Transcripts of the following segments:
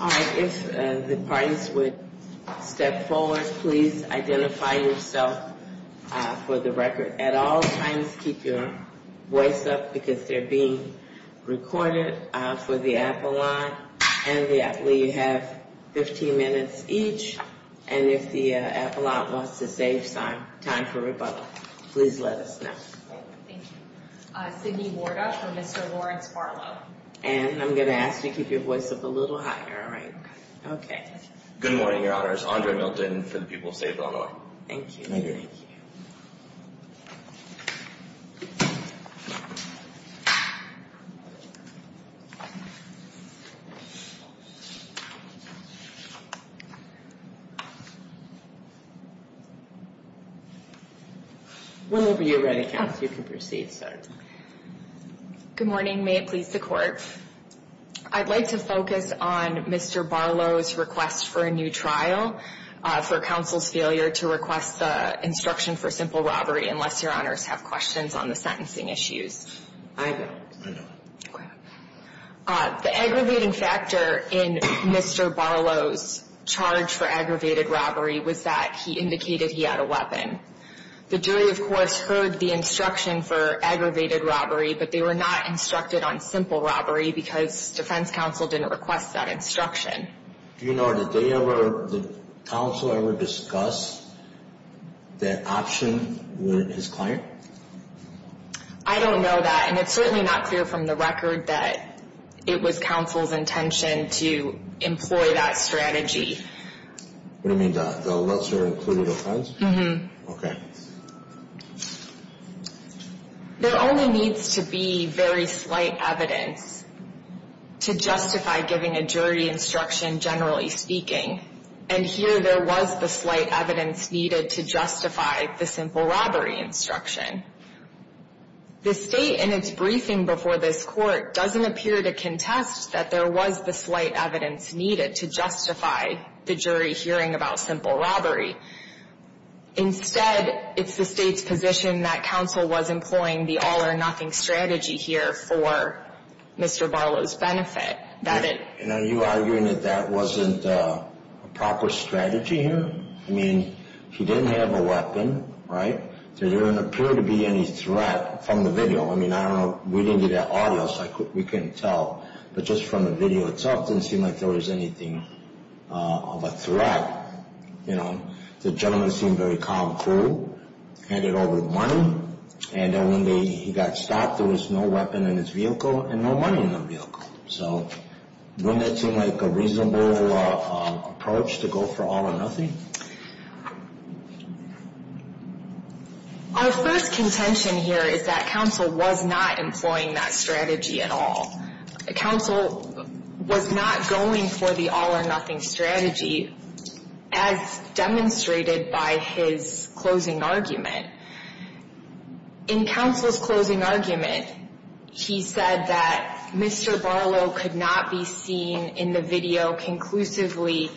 All right, if the parties would step forward, please identify yourself for the record. At all times, keep your voice up because they're being recorded for the Apple Live. And I believe you have 15 minutes each, and if the Appalachian wants to save time for rebuttal, please let us know. Thank you. Sydney Warda for Mr. Lawrence Barlow. And I'm going to ask you to keep your voice up a little higher, all right? Okay. Good morning, Your Honors. Andre Milton for the people of the state of Illinois. Thank you. Thank you. Thank you. Whenever you're ready, Counsel, you can proceed, sir. Good morning. May it please the Court. I'd like to focus on Mr. Barlow's request for a new trial for counsel's failure to request the instruction for simple robbery, unless Your Honors have questions on the sentencing issues. I don't. I don't. Okay. The aggravating factor in Mr. Barlow's charge for aggravated robbery was that he indicated he had a weapon. The jury, of course, heard the instruction for aggravated robbery, but they were not instructed on simple robbery because defense counsel didn't request that instruction. Do you know, did they ever, did counsel ever discuss that option with his client? I don't know that, and it's certainly not clear from the record that it was counsel's intention to employ that strategy. What do you mean, the lesser included offense? Mm-hmm. Okay. There only needs to be very slight evidence to justify giving a jury instruction, generally speaking. And here there was the slight evidence needed to justify the simple robbery instruction. The State, in its briefing before this Court, doesn't appear to contest that there was the slight evidence needed to justify the jury hearing about simple robbery. Instead, it's the State's position that counsel was employing the all-or-nothing strategy here for Mr. Barlow's benefit, that it You know, are you arguing that that wasn't a proper strategy here? I mean, he didn't have a weapon, right? There didn't appear to be any threat from the video. I mean, I don't know, we didn't do that audio, so we couldn't tell. But just from the video itself, it didn't seem like there was anything of a threat. You know, the gentleman seemed very calm, cool, handed over the money, and then when he got stopped, there was no weapon in his vehicle and no money in the vehicle. So, wouldn't that seem like a reasonable approach to go for all-or-nothing? Our first contention here is that counsel was not employing that strategy at all. Counsel was not going for the all-or-nothing strategy, as demonstrated by his closing argument. In counsel's closing argument, he said that Mr. Barlow could not be seen in the video conclusively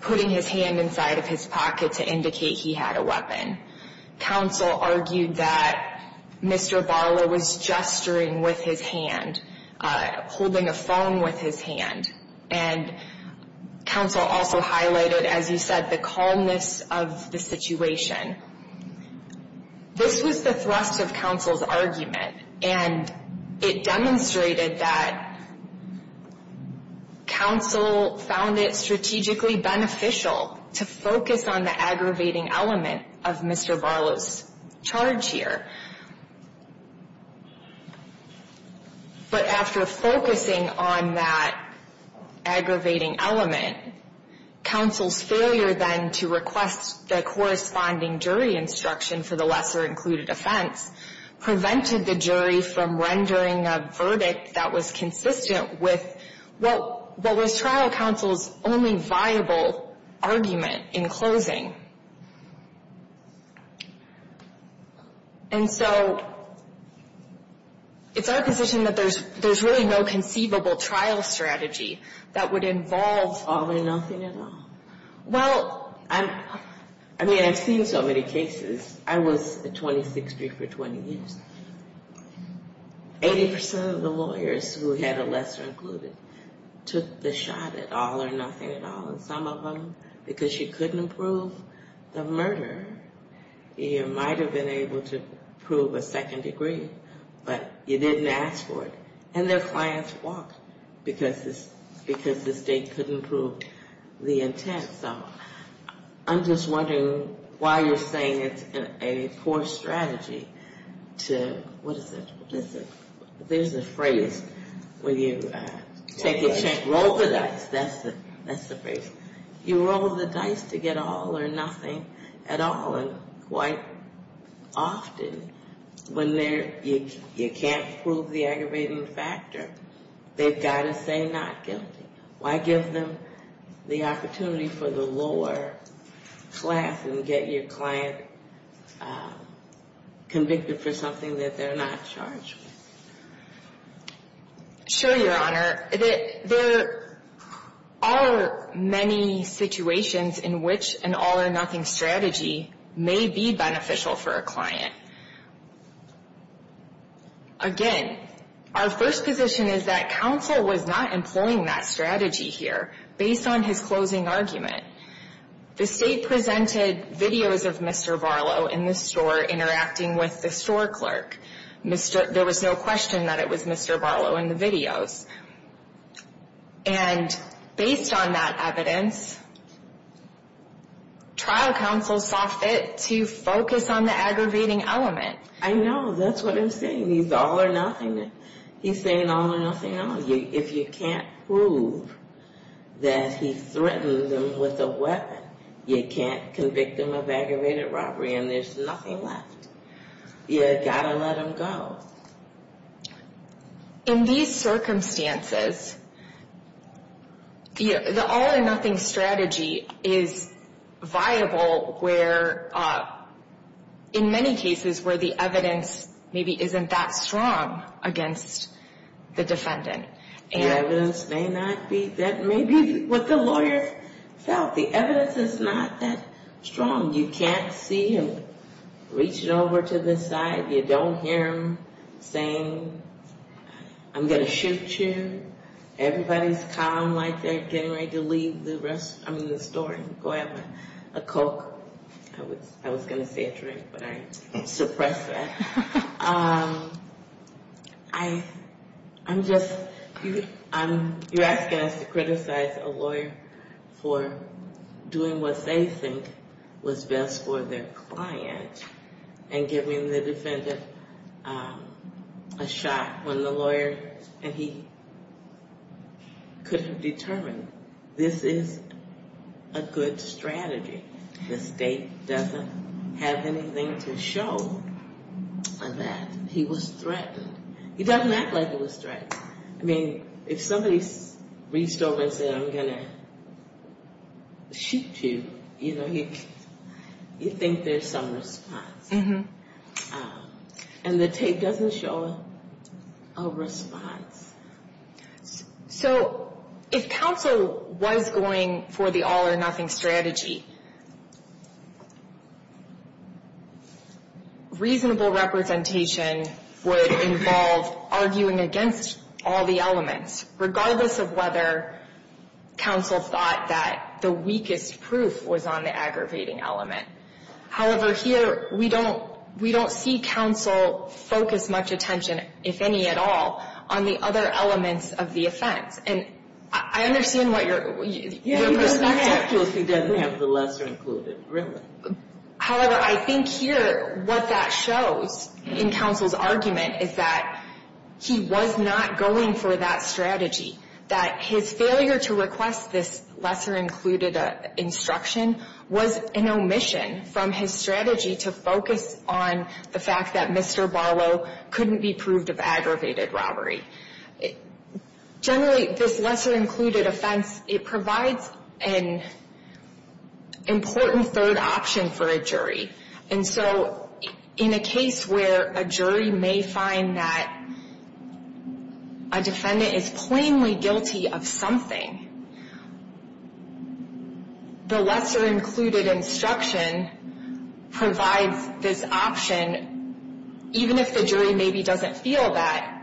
putting his hand inside of his pocket to indicate he had a weapon. Counsel argued that Mr. Barlow was gesturing with his hand, holding a phone with his hand. And counsel also highlighted, as you said, the calmness of the situation. This was the thrust of counsel's argument, and it demonstrated that counsel found it strategically beneficial to focus on the aggravating element of Mr. Barlow's charge here. But after focusing on that aggravating element, counsel's failure then to request the corresponding jury instruction for the lesser-included offense prevented the jury from rendering a verdict that was consistent with what was trial counsel's only viable argument in closing. And so it's our position that there's really no conceivable trial strategy that would involve all-or-nothing at all. Well, I mean, I've seen so many cases. I was a 2060 for 20 years. Eighty percent of the lawyers who had a lesser-included took the shot at all-or-nothing at all. And some of them, because you couldn't prove the murder, you might have been able to prove a second degree, but you didn't ask for it. And their clients walked because the state couldn't prove the intent. So I'm just wondering why you're saying it's a poor strategy to, what is it, there's a phrase where you take a chance. Roll the dice. That's the phrase. You roll the dice to get all-or-nothing at all. And quite often when you can't prove the aggravating factor, they've got to say not guilty. Why give them the opportunity for the lower class and get your client convicted for something that they're not charged with? Sure, Your Honor. There are many situations in which an all-or-nothing strategy may be beneficial for a client. Again, our first position is that counsel was not employing that strategy here based on his closing argument. The state presented videos of Mr. Barlow in the store interacting with the store clerk. There was no question that it was Mr. Barlow in the videos. And based on that evidence, trial counsel saw fit to focus on the aggravating element. I know. That's what I'm saying. He's all-or-nothing. He's saying all-or-nothing. If you can't prove that he threatened them with a weapon, you can't convict them of aggravated robbery and there's nothing left. You've got to let them go. In these circumstances, the all-or-nothing strategy is viable in many cases where the evidence maybe isn't that strong against the defendant. The evidence may not be. That may be what the lawyer felt. The evidence is not that strong. You can't see him reaching over to this side. You don't hear him saying, I'm going to shoot you. Everybody's calm like they're getting ready to leave the store and go have a Coke. I was going to say a drink, but I suppressed that. I'm just, you're asking us to criticize a lawyer for doing what they think was best for their client and giving the defendant a shot when the lawyer and he couldn't determine this is a good strategy. The state doesn't have anything to show that he was threatened. He doesn't act like he was threatened. I mean, if somebody reached over and said, I'm going to shoot you, you know, you think there's some response. And the tape doesn't show a response. So if counsel was going for the all-or-nothing strategy, reasonable representation would involve arguing against all the elements, regardless of whether counsel thought that the weakest proof was on the aggravating element. However, here, we don't see counsel focus much attention, if any at all, on the other elements of the offense. And I understand what your perspective is. He doesn't have the lesser included. However, I think here what that shows in counsel's argument is that he was not going for that strategy. That his failure to request this lesser included instruction was an omission from his strategy to focus on the fact that Mr. Barlow couldn't be proved of aggravated robbery. Generally, this lesser included offense, it provides an important third option for a jury. And so in a case where a jury may find that a defendant is plainly guilty of something, the lesser included instruction provides this option, even if the jury maybe doesn't feel that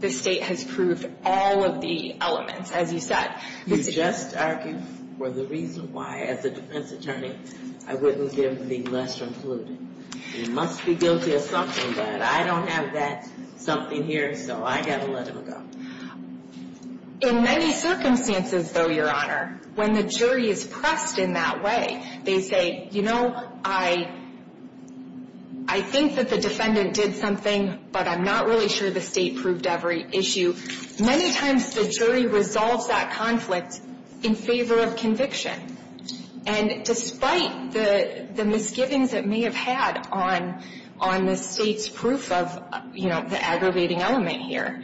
the state has proved all of the elements, as you said. You just argued for the reason why, as a defense attorney, I wouldn't give the lesser included. He must be guilty of something, but I don't have that something here, so I got to let him go. In many circumstances, though, Your Honor, when the jury is pressed in that way, they say, you know, I think that the defendant did something, but I'm not really sure the state proved every issue. Many times the jury resolves that conflict in favor of conviction. And despite the misgivings it may have had on the state's proof of, you know, the aggravating element here,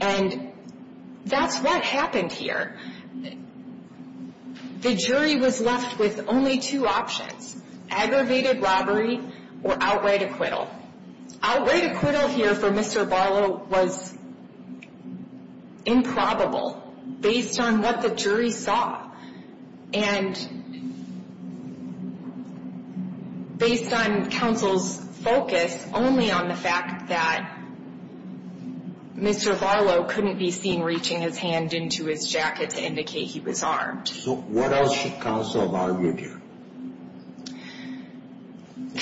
and that's what happened here. The jury was left with only two options, aggravated robbery or outright acquittal. Outright acquittal here for Mr. Barlow was improbable based on what the jury saw and based on counsel's focus only on the fact that Mr. Barlow couldn't be seen reaching his hand into his jacket to indicate he was armed. So what else should counsel have argued here?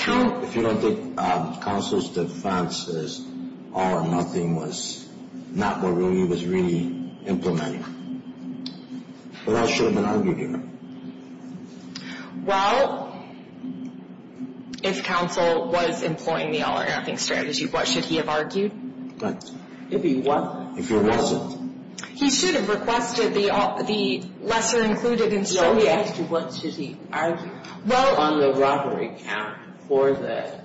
If you don't think counsel's defense is all or nothing was not what Rudy was really implementing, then I shouldn't have argued here. Well, if counsel was employing the all or nothing strategy, what should he have argued? If he wasn't. If he wasn't. He should have requested the lesser included instruction. Well, he asked you what should he argue on the robbery count for that.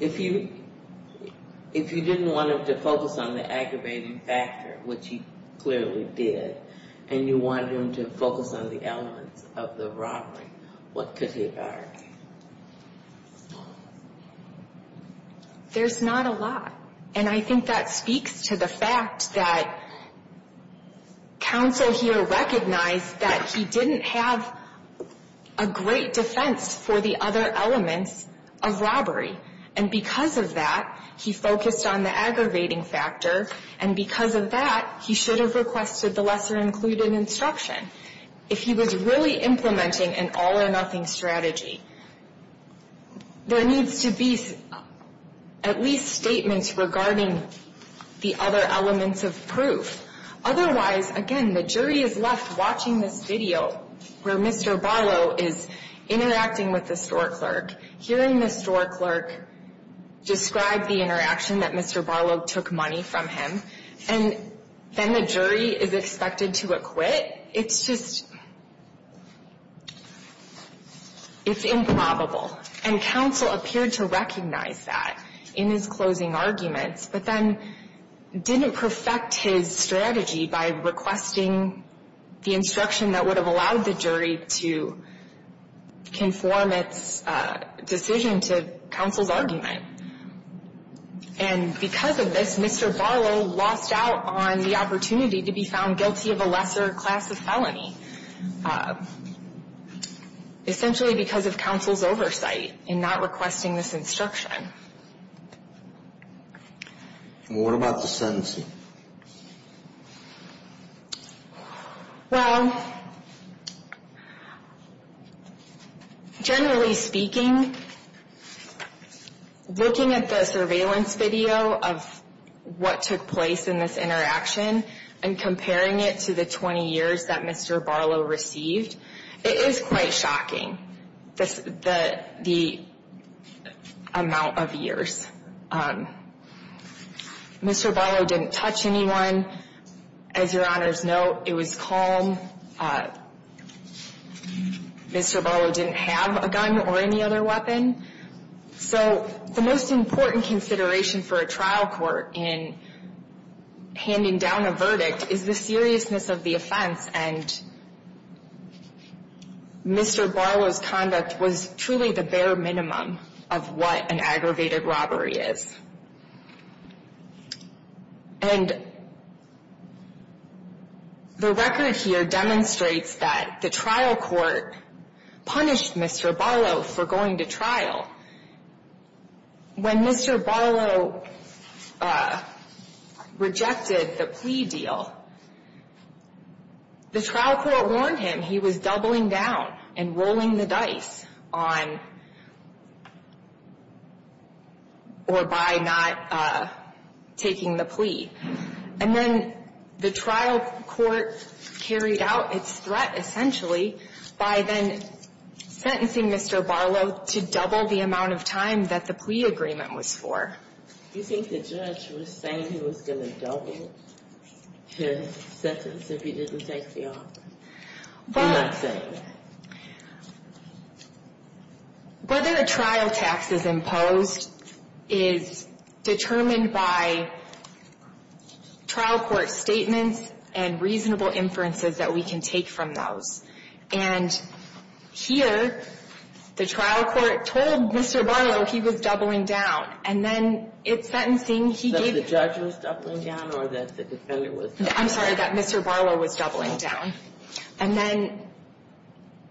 If you didn't want him to focus on the aggravating factor, which he clearly did, and you wanted him to focus on the elements of the robbery, what could he have argued? There's not a lot. And I think that speaks to the fact that counsel here recognized that he didn't have a great defense for the other elements of robbery. And because of that, he focused on the aggravating factor. And because of that, he should have requested the lesser included instruction. If he was really implementing an all or nothing strategy, there needs to be at least statements regarding the other elements of proof. Otherwise, again, the jury is left watching this video where Mr. Barlow is interacting with the store clerk, hearing the store clerk describe the interaction that Mr. Barlow took money from him, and then the jury is expected to acquit. It's just, it's improbable. And counsel appeared to recognize that in his closing arguments, but then didn't perfect his strategy by requesting the instruction that would have allowed the jury to conform its decision to counsel's argument. And because of this, Mr. Barlow lost out on the opportunity to be found guilty of a lesser class of felony, essentially because of counsel's oversight in not requesting this instruction. And what about the sentencing? Well, generally speaking, looking at the surveillance video of what took place in this interaction and comparing it to the 20 years that Mr. Barlow received, it is quite shocking, the amount of years. Mr. Barlow didn't touch anyone. As Your Honor's note, it was calm. Mr. Barlow didn't have a gun or any other weapon. So the most important consideration for a trial court in handing down a verdict is the seriousness of the offense, and Mr. Barlow's conduct was truly the bare minimum of what an aggravated robbery is. And the record here demonstrates that the trial court punished Mr. Barlow for going to trial. When Mr. Barlow rejected the plea deal, the trial court warned him he was doubling down and rolling the dice on or by not taking the plea. And then the trial court carried out its threat essentially by then sentencing Mr. Barlow to double the amount of time that the plea agreement was for. You think the judge was saying he was going to double his sentence if he didn't take the offer? I'm not saying that. Whether a trial tax is imposed is determined by trial court statements and reasonable inferences that we can take from those. And here, the trial court told Mr. Barlow he was doubling down. And then it's sentencing. That the judge was doubling down or that the defendant was doubling down? I'm sorry, that Mr. Barlow was doubling down. And then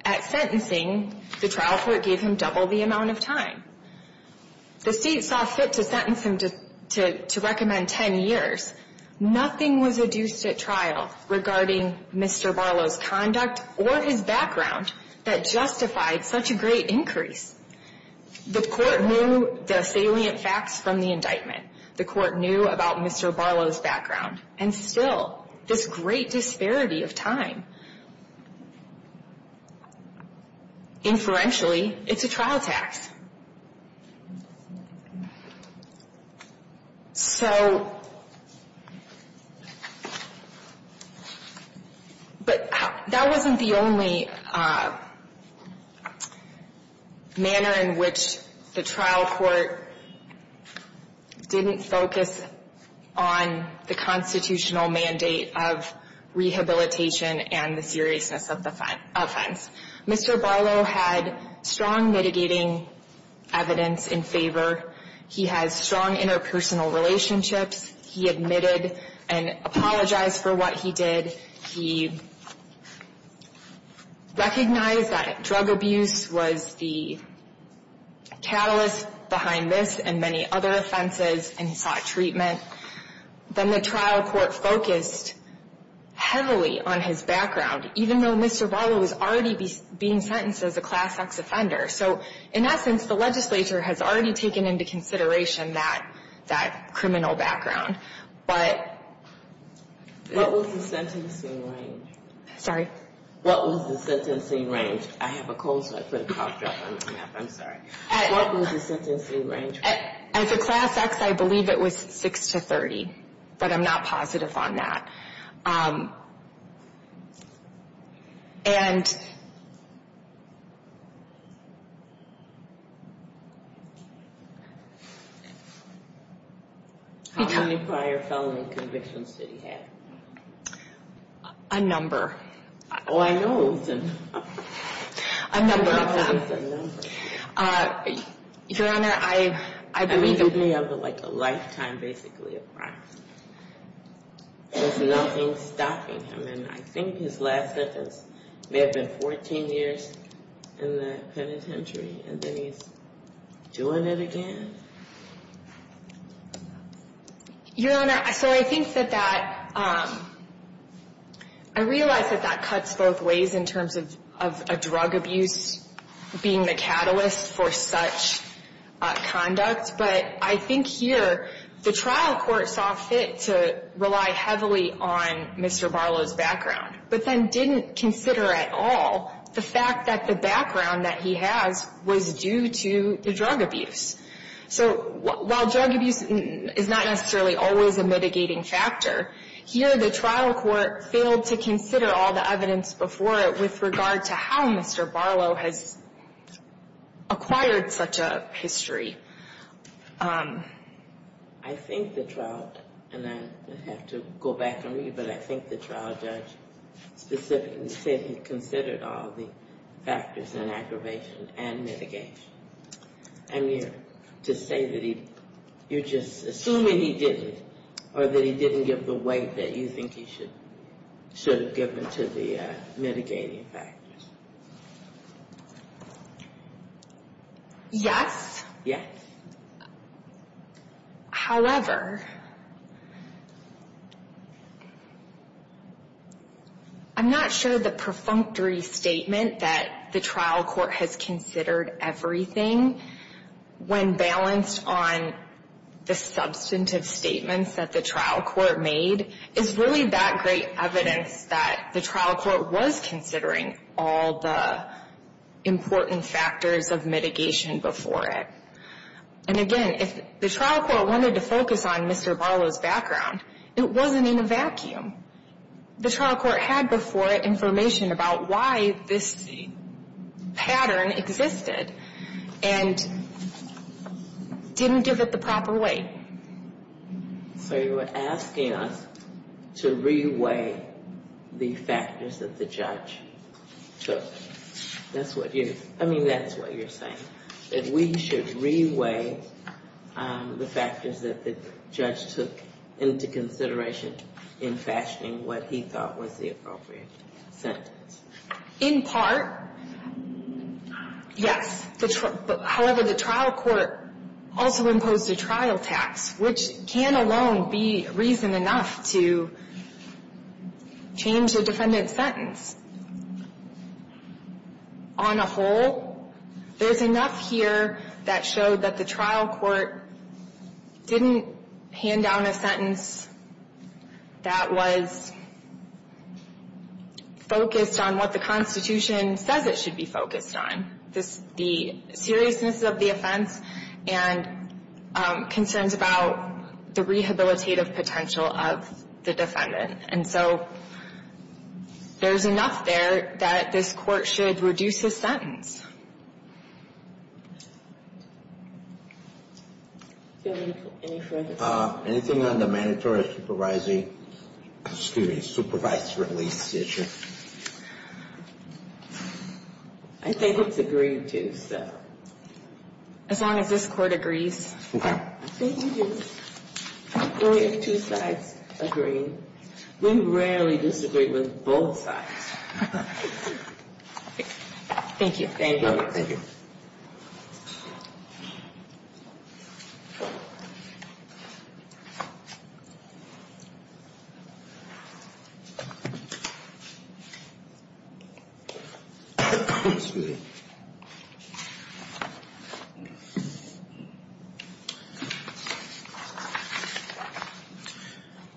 at sentencing, the trial court gave him double the amount of time. The state saw fit to sentence him to recommend 10 years. Nothing was adduced at trial regarding Mr. Barlow's conduct or his background that justified such a great increase. The court knew the salient facts from the indictment. The court knew about Mr. Barlow's background. And still, this great disparity of time. Inferentially, it's a trial tax. So, but that wasn't the only manner in which the trial court didn't focus on the constitutional mandate of rehabilitation and the seriousness of the offense. Mr. Barlow had strong mitigating evidence in favor. He has strong interpersonal relationships. He admitted and apologized for what he did. He recognized that drug abuse was the catalyst behind this and many other offenses and sought treatment. Then the trial court focused heavily on his background. Even though Mr. Barlow was already being sentenced as a Class X offender. So, in essence, the legislature has already taken into consideration that criminal background. But — What was the sentencing range? Sorry? What was the sentencing range? I have a cold, so I put a cough drop on the map. I'm sorry. What was the sentencing range? As a Class X, I believe it was 6 to 30, but I'm not positive on that. And — How many prior felony convictions did he have? A number. Oh, I know it was a number. A number of them. I thought it was a number. Your Honor, I believe — It could be like a lifetime, basically, of crime. There's nothing stopping him. And I think his last sentence may have been 14 years in the penitentiary. And then he's doing it again. Your Honor, so I think that that — I realize that that cuts both ways in terms of a drug abuse being the catalyst for such conduct. But I think here the trial court saw fit to rely heavily on Mr. Barlow's background, but then didn't consider at all the fact that the background that he has was due to the drug abuse. So while drug abuse is not necessarily always a mitigating factor, here the trial court failed to consider all the evidence before it with regard to how Mr. Barlow has acquired such a history. I think the trial — and I have to go back and read, but I think the trial judge specifically said he considered all the factors in aggravation and mitigation. I mean, to say that he — you're just assuming he didn't, or that he didn't give the weight that you think he should have given to the mitigating factors. Yes. Yes. However, I'm not sure the perfunctory statement that the trial court has considered everything, when balanced on the substantive statements that the trial court made, is really that great evidence that the trial court was considering all the important factors of mitigation before it. And again, if the trial court wanted to focus on Mr. Barlow's background, it wasn't in a vacuum. The trial court had before it information about why this pattern existed, and didn't give it the proper weight. So you're asking us to re-weigh the factors that the judge took. That's what you're — I mean, that's what you're saying, that we should re-weigh the factors that the judge took into consideration in fashioning what he thought was the appropriate sentence. In part, yes. However, the trial court also imposed a trial tax, which can alone be reason enough to change the defendant's sentence. On a whole, there's enough here that showed that the trial court didn't hand down a sentence that was focused on what the Constitution says it should be focused on, the seriousness of the offense and concerns about the rehabilitative potential of the defendant. And so there's enough there that this court should reduce his sentence. Anything on the mandatory supervising — excuse me, supervised release issue? I think it's agreed to, so. As long as this court agrees. I think it is. Only if two sides agree. We rarely disagree with both sides. Thank you. Thank you. Thank you.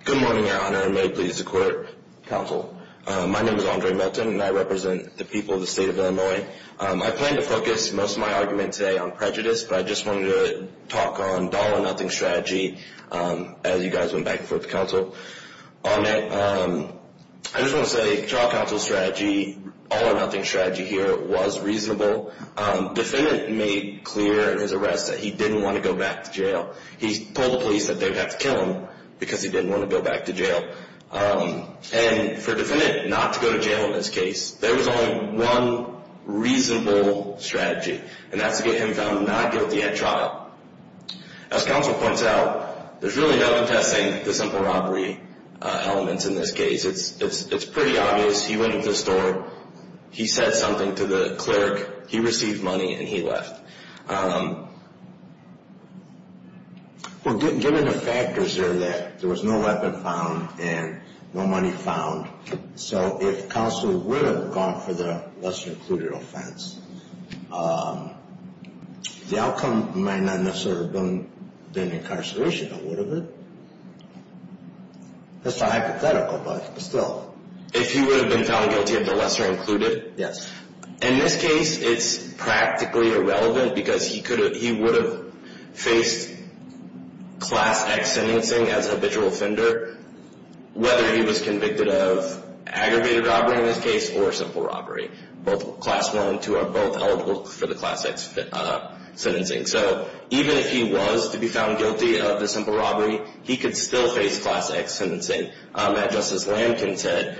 Good morning, Your Honor, and may it please the court, counsel. My name is Andre Melton, and I represent the people of the state of Illinois. I plan to focus most of my argument today on prejudice, but I just wanted to talk on the all-or-nothing strategy as you guys went back and forth to counsel on it. I just want to say trial counsel's strategy, all-or-nothing strategy here, was reasonable. Defendant made clear in his arrest that he didn't want to go back to jail. He told the police that they would have to kill him because he didn't want to go back to jail. And for a defendant not to go to jail in this case, there was only one reasonable strategy, and that's to get him found not guilty at trial. As counsel points out, there's really nothing testing the simple robbery elements in this case. It's pretty obvious. He went into the store. He said something to the clerk. He received money, and he left. Well, given the factors there that there was no weapon found and no money found, so if counsel would have gone for the lesser-included offense, the outcome might not necessarily have been incarceration. It would have been. That's a hypothetical, but still. If he would have been found guilty of the lesser-included? Yes. In this case, it's practically irrelevant because he would have faced Class X sentencing as an habitual offender, whether he was convicted of aggravated robbery in this case or simple robbery. Both Class I and II are both eligible for the Class X sentencing. So even if he was to be found guilty of the simple robbery, he could still face Class X sentencing. As Justice Lankin said,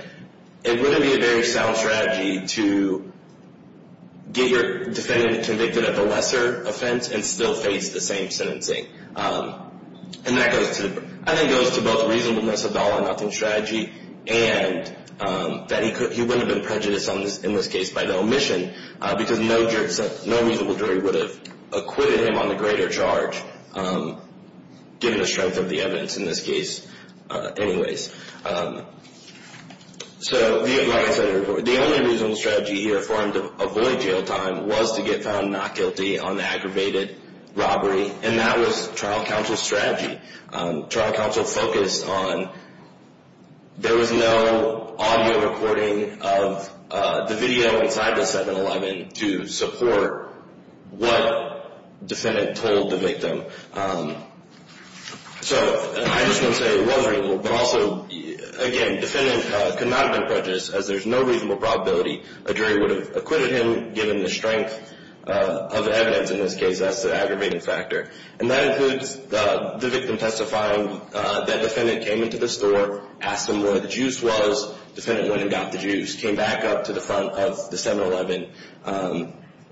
it wouldn't be a very sound strategy to get your defendant convicted of a lesser offense and still face the same sentencing. And that goes to both reasonableness of the all-or-nothing strategy and that he wouldn't have been prejudiced in this case by the omission because no reasonable jury would have acquitted him on the greater charge, given the strength of the evidence in this case anyways. So the only reasonable strategy here for him to avoid jail time was to get found not guilty on the aggravated robbery, and that was trial counsel's strategy. Trial counsel focused on there was no audio recording of the video inside the 7-Eleven to support what defendant told the victim. So I just want to say it was reasonable, but also, again, defendant could not have been prejudiced as there's no reasonable probability a jury would have acquitted him given the strength of evidence in this case as to the aggravated factor. And that includes the victim testifying that defendant came into the store, asked him where the juice was, defendant went and got the juice, came back up to the front of the 7-Eleven,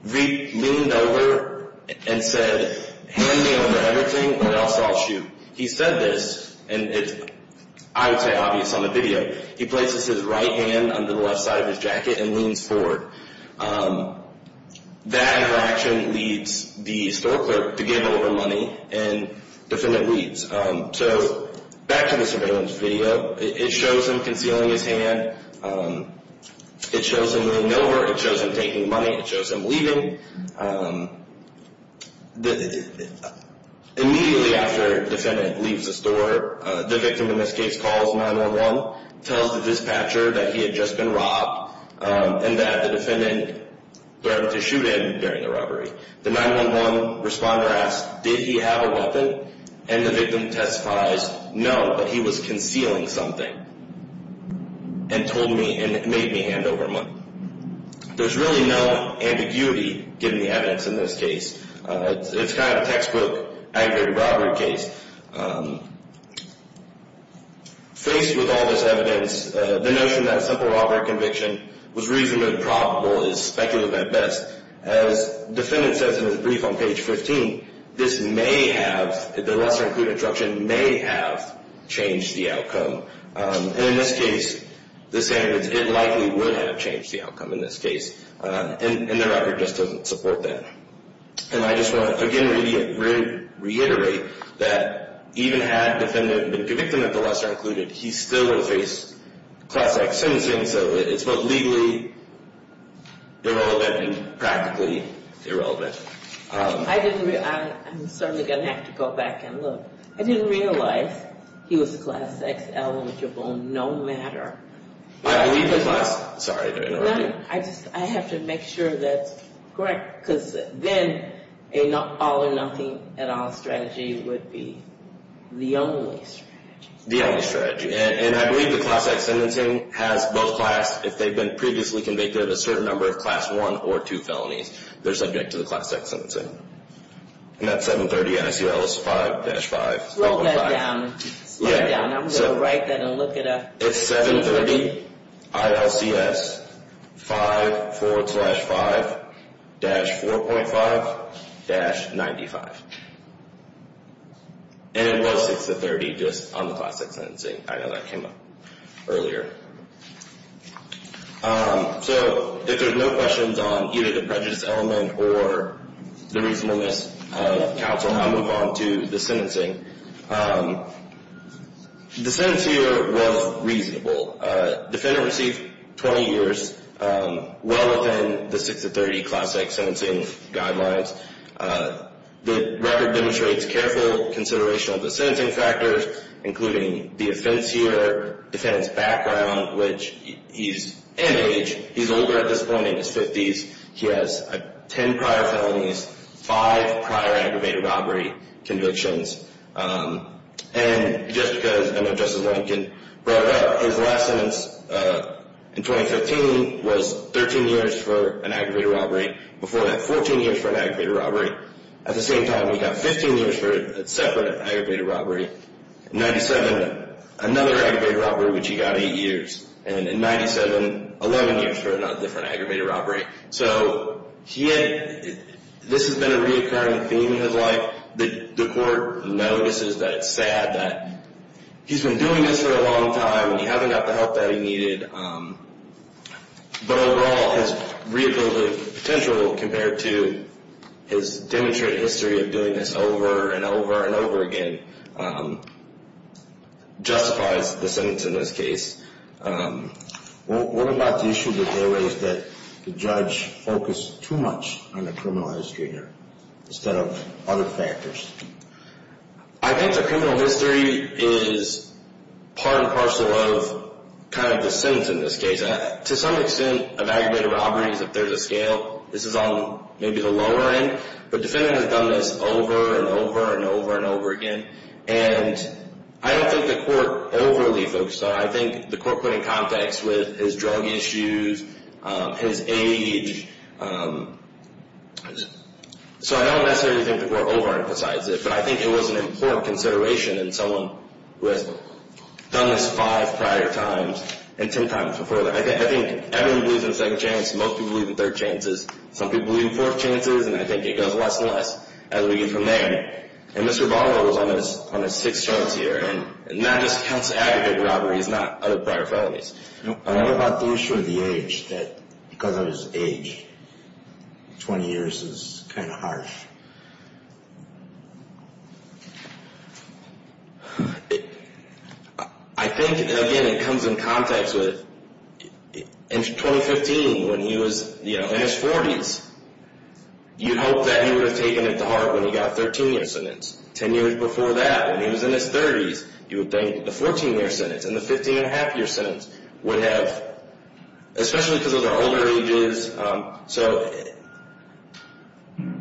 leaned over and said, hand me over everything or else I'll shoot. He said this, and it's, I would say, obvious on the video. He places his right hand under the left side of his jacket and leans forward. That interaction leads the store clerk to give over money, and defendant leaves. So back to the surveillance video. It shows him concealing his hand. It shows him leaning over. It shows him taking money. It shows him leaving. Immediately after defendant leaves the store, the victim in this case calls 911, tells the dispatcher that he had just been robbed and that the defendant threatened to shoot him during the robbery. The 911 responder asks, did he have a weapon? And the victim testifies, no, but he was concealing something and told me and made me hand over money. There's really no ambiguity given the evidence in this case. It's kind of a textbook aggravated robbery case. Faced with all this evidence, the notion that a simple robbery conviction was reasonably probable is speculative at best. As defendant says in his brief on page 15, this may have, the lesser-included instruction may have changed the outcome. And in this case, the sentence, it likely would have changed the outcome in this case, and the record just doesn't support that. And I just want to again reiterate that even had defendant been convicted of the lesser-included, he still would have faced class X sentencing. So it's both legally irrelevant and practically irrelevant. I didn't realize, I'm certainly going to have to go back and look. I didn't realize he was class X eligible no matter. I believe it was, sorry to interrupt you. I have to make sure that's correct because then an all or nothing at all strategy would be the only strategy. And I believe the class X sentencing has both class, if they've been previously convicted of a certain number of class 1 or 2 felonies, they're subject to the class X sentencing. And that's 730 NICLS 5-5. Slow that down. Slow it down. I'm going to write that and look it up. It's 730 ILCS 5 forward slash 5 dash 4.5 dash 95. And it was 6-30 just on the class X sentencing. I know that came up earlier. So if there's no questions on either the prejudice element or the reasonableness of counsel, I'll move on to the sentencing. The sentence here was reasonable. Defendant received 20 years well within the 6-30 class X sentencing guidelines. The record demonstrates careful consideration of the sentencing factors, including the offense here, defendant's background, which he's in age. He's older at this point. He's in his 50s. He has 10 prior felonies, 5 prior aggravated robbery convictions. And just because I know Justice Lincoln brought it up, his last sentence in 2015 was 13 years for an aggravated robbery. Before that, 14 years for an aggravated robbery. At the same time, he got 15 years for a separate aggravated robbery. In 97, another aggravated robbery, which he got 8 years. And in 97, 11 years for another aggravated robbery. So this has been a reoccurring theme in his life. The court notices that it's sad that he's been doing this for a long time and he hasn't got the help that he needed. But overall, his rehabilitative potential compared to his demonstrated history of doing this over and over and over again justifies the sentence in this case. What about the issue that there is that the judge focused too much on the criminal history here instead of other factors? I think the criminal history is part and parcel of the sentence in this case. To some extent, aggravated robberies, if there's a scale, this is on maybe the lower end. But the defendant has done this over and over and over and over again. And I don't think the court overly focused on it. I think the court put it in context with his drug issues, his age. So I don't necessarily think the court overemphasizes it. But I think it was an important consideration in someone who has done this 5 prior times and 10 times before. I think everyone believes in a second chance. Most people believe in third chances. Some people believe in fourth chances. And I think it goes less and less as we get from there. And Mr. Barlow was on his sixth chance here. And that just counts as aggravated robbery. It's not other prior felonies. I don't know about the issue of the age. Because of his age, 20 years is kind of harsh. I think, again, it comes in context with 2015 when he was in his 40s. You'd hope that he would have taken it to heart when he got a 13-year sentence. Ten years before that, when he was in his 30s, you would think the 14-year sentence and the 15-and-a-half-year sentence would have, especially because of their older ages. So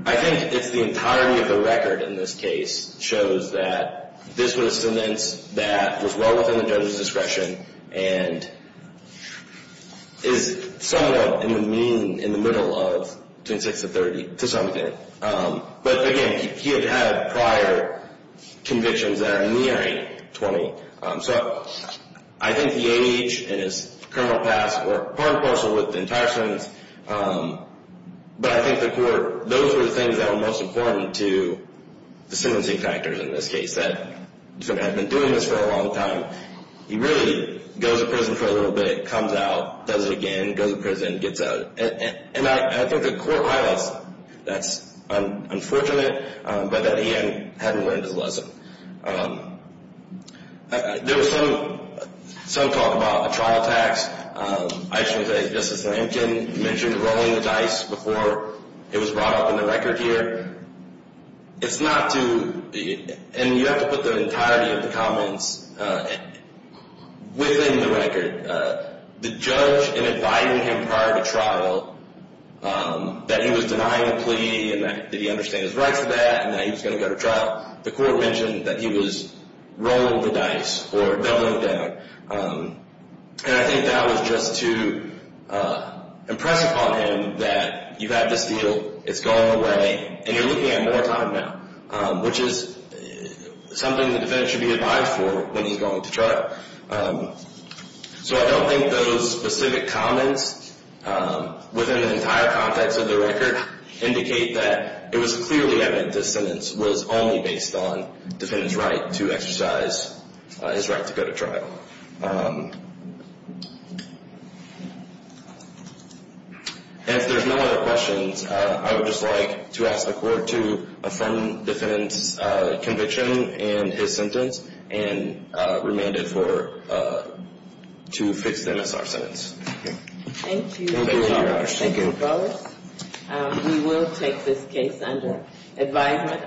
I think it's the entirety of the record in this case shows that this was a sentence that was well within the judge's discretion and is somewhat in the mean, in the middle of, between 6 and 30, to some degree. But, again, he had prior convictions that are nearing 20. So I think the age and his criminal past were part and parcel with the entire sentence. But I think the court, those were the things that were most important to the sentencing factors in this case, that had been doing this for a long time. He really goes to prison for a little bit, comes out, does it again, goes to prison, gets out. And I think the court highlights that. That's unfortunate, but that he hadn't learned his lesson. There was some talk about a trial tax. I should say, Justice Lincoln mentioned rolling the dice before it was brought up in the record here. It's not to, and you have to put the entirety of the comments within the record. The judge, in advising him prior to trial, that he was denying a plea and that he understood his rights to that and that he was going to go to trial, the court mentioned that he was rolling the dice or doubling it down. And I think that was just to impress upon him that you've had this deal, it's going away, and you're looking at more time now, which is something the defendant should be advised for when he's going to trial. So I don't think those specific comments within the entire context of the record indicate that it was clearly evident this sentence was only based on the defendant's right to exercise his right to go to trial. And if there's no other questions, I would just like to ask the court to affirm the defendant's conviction in his sentence and remand it for, to fix the NSR sentence. Thank you. Thank you very much. Thank you. We will take this case under advisement.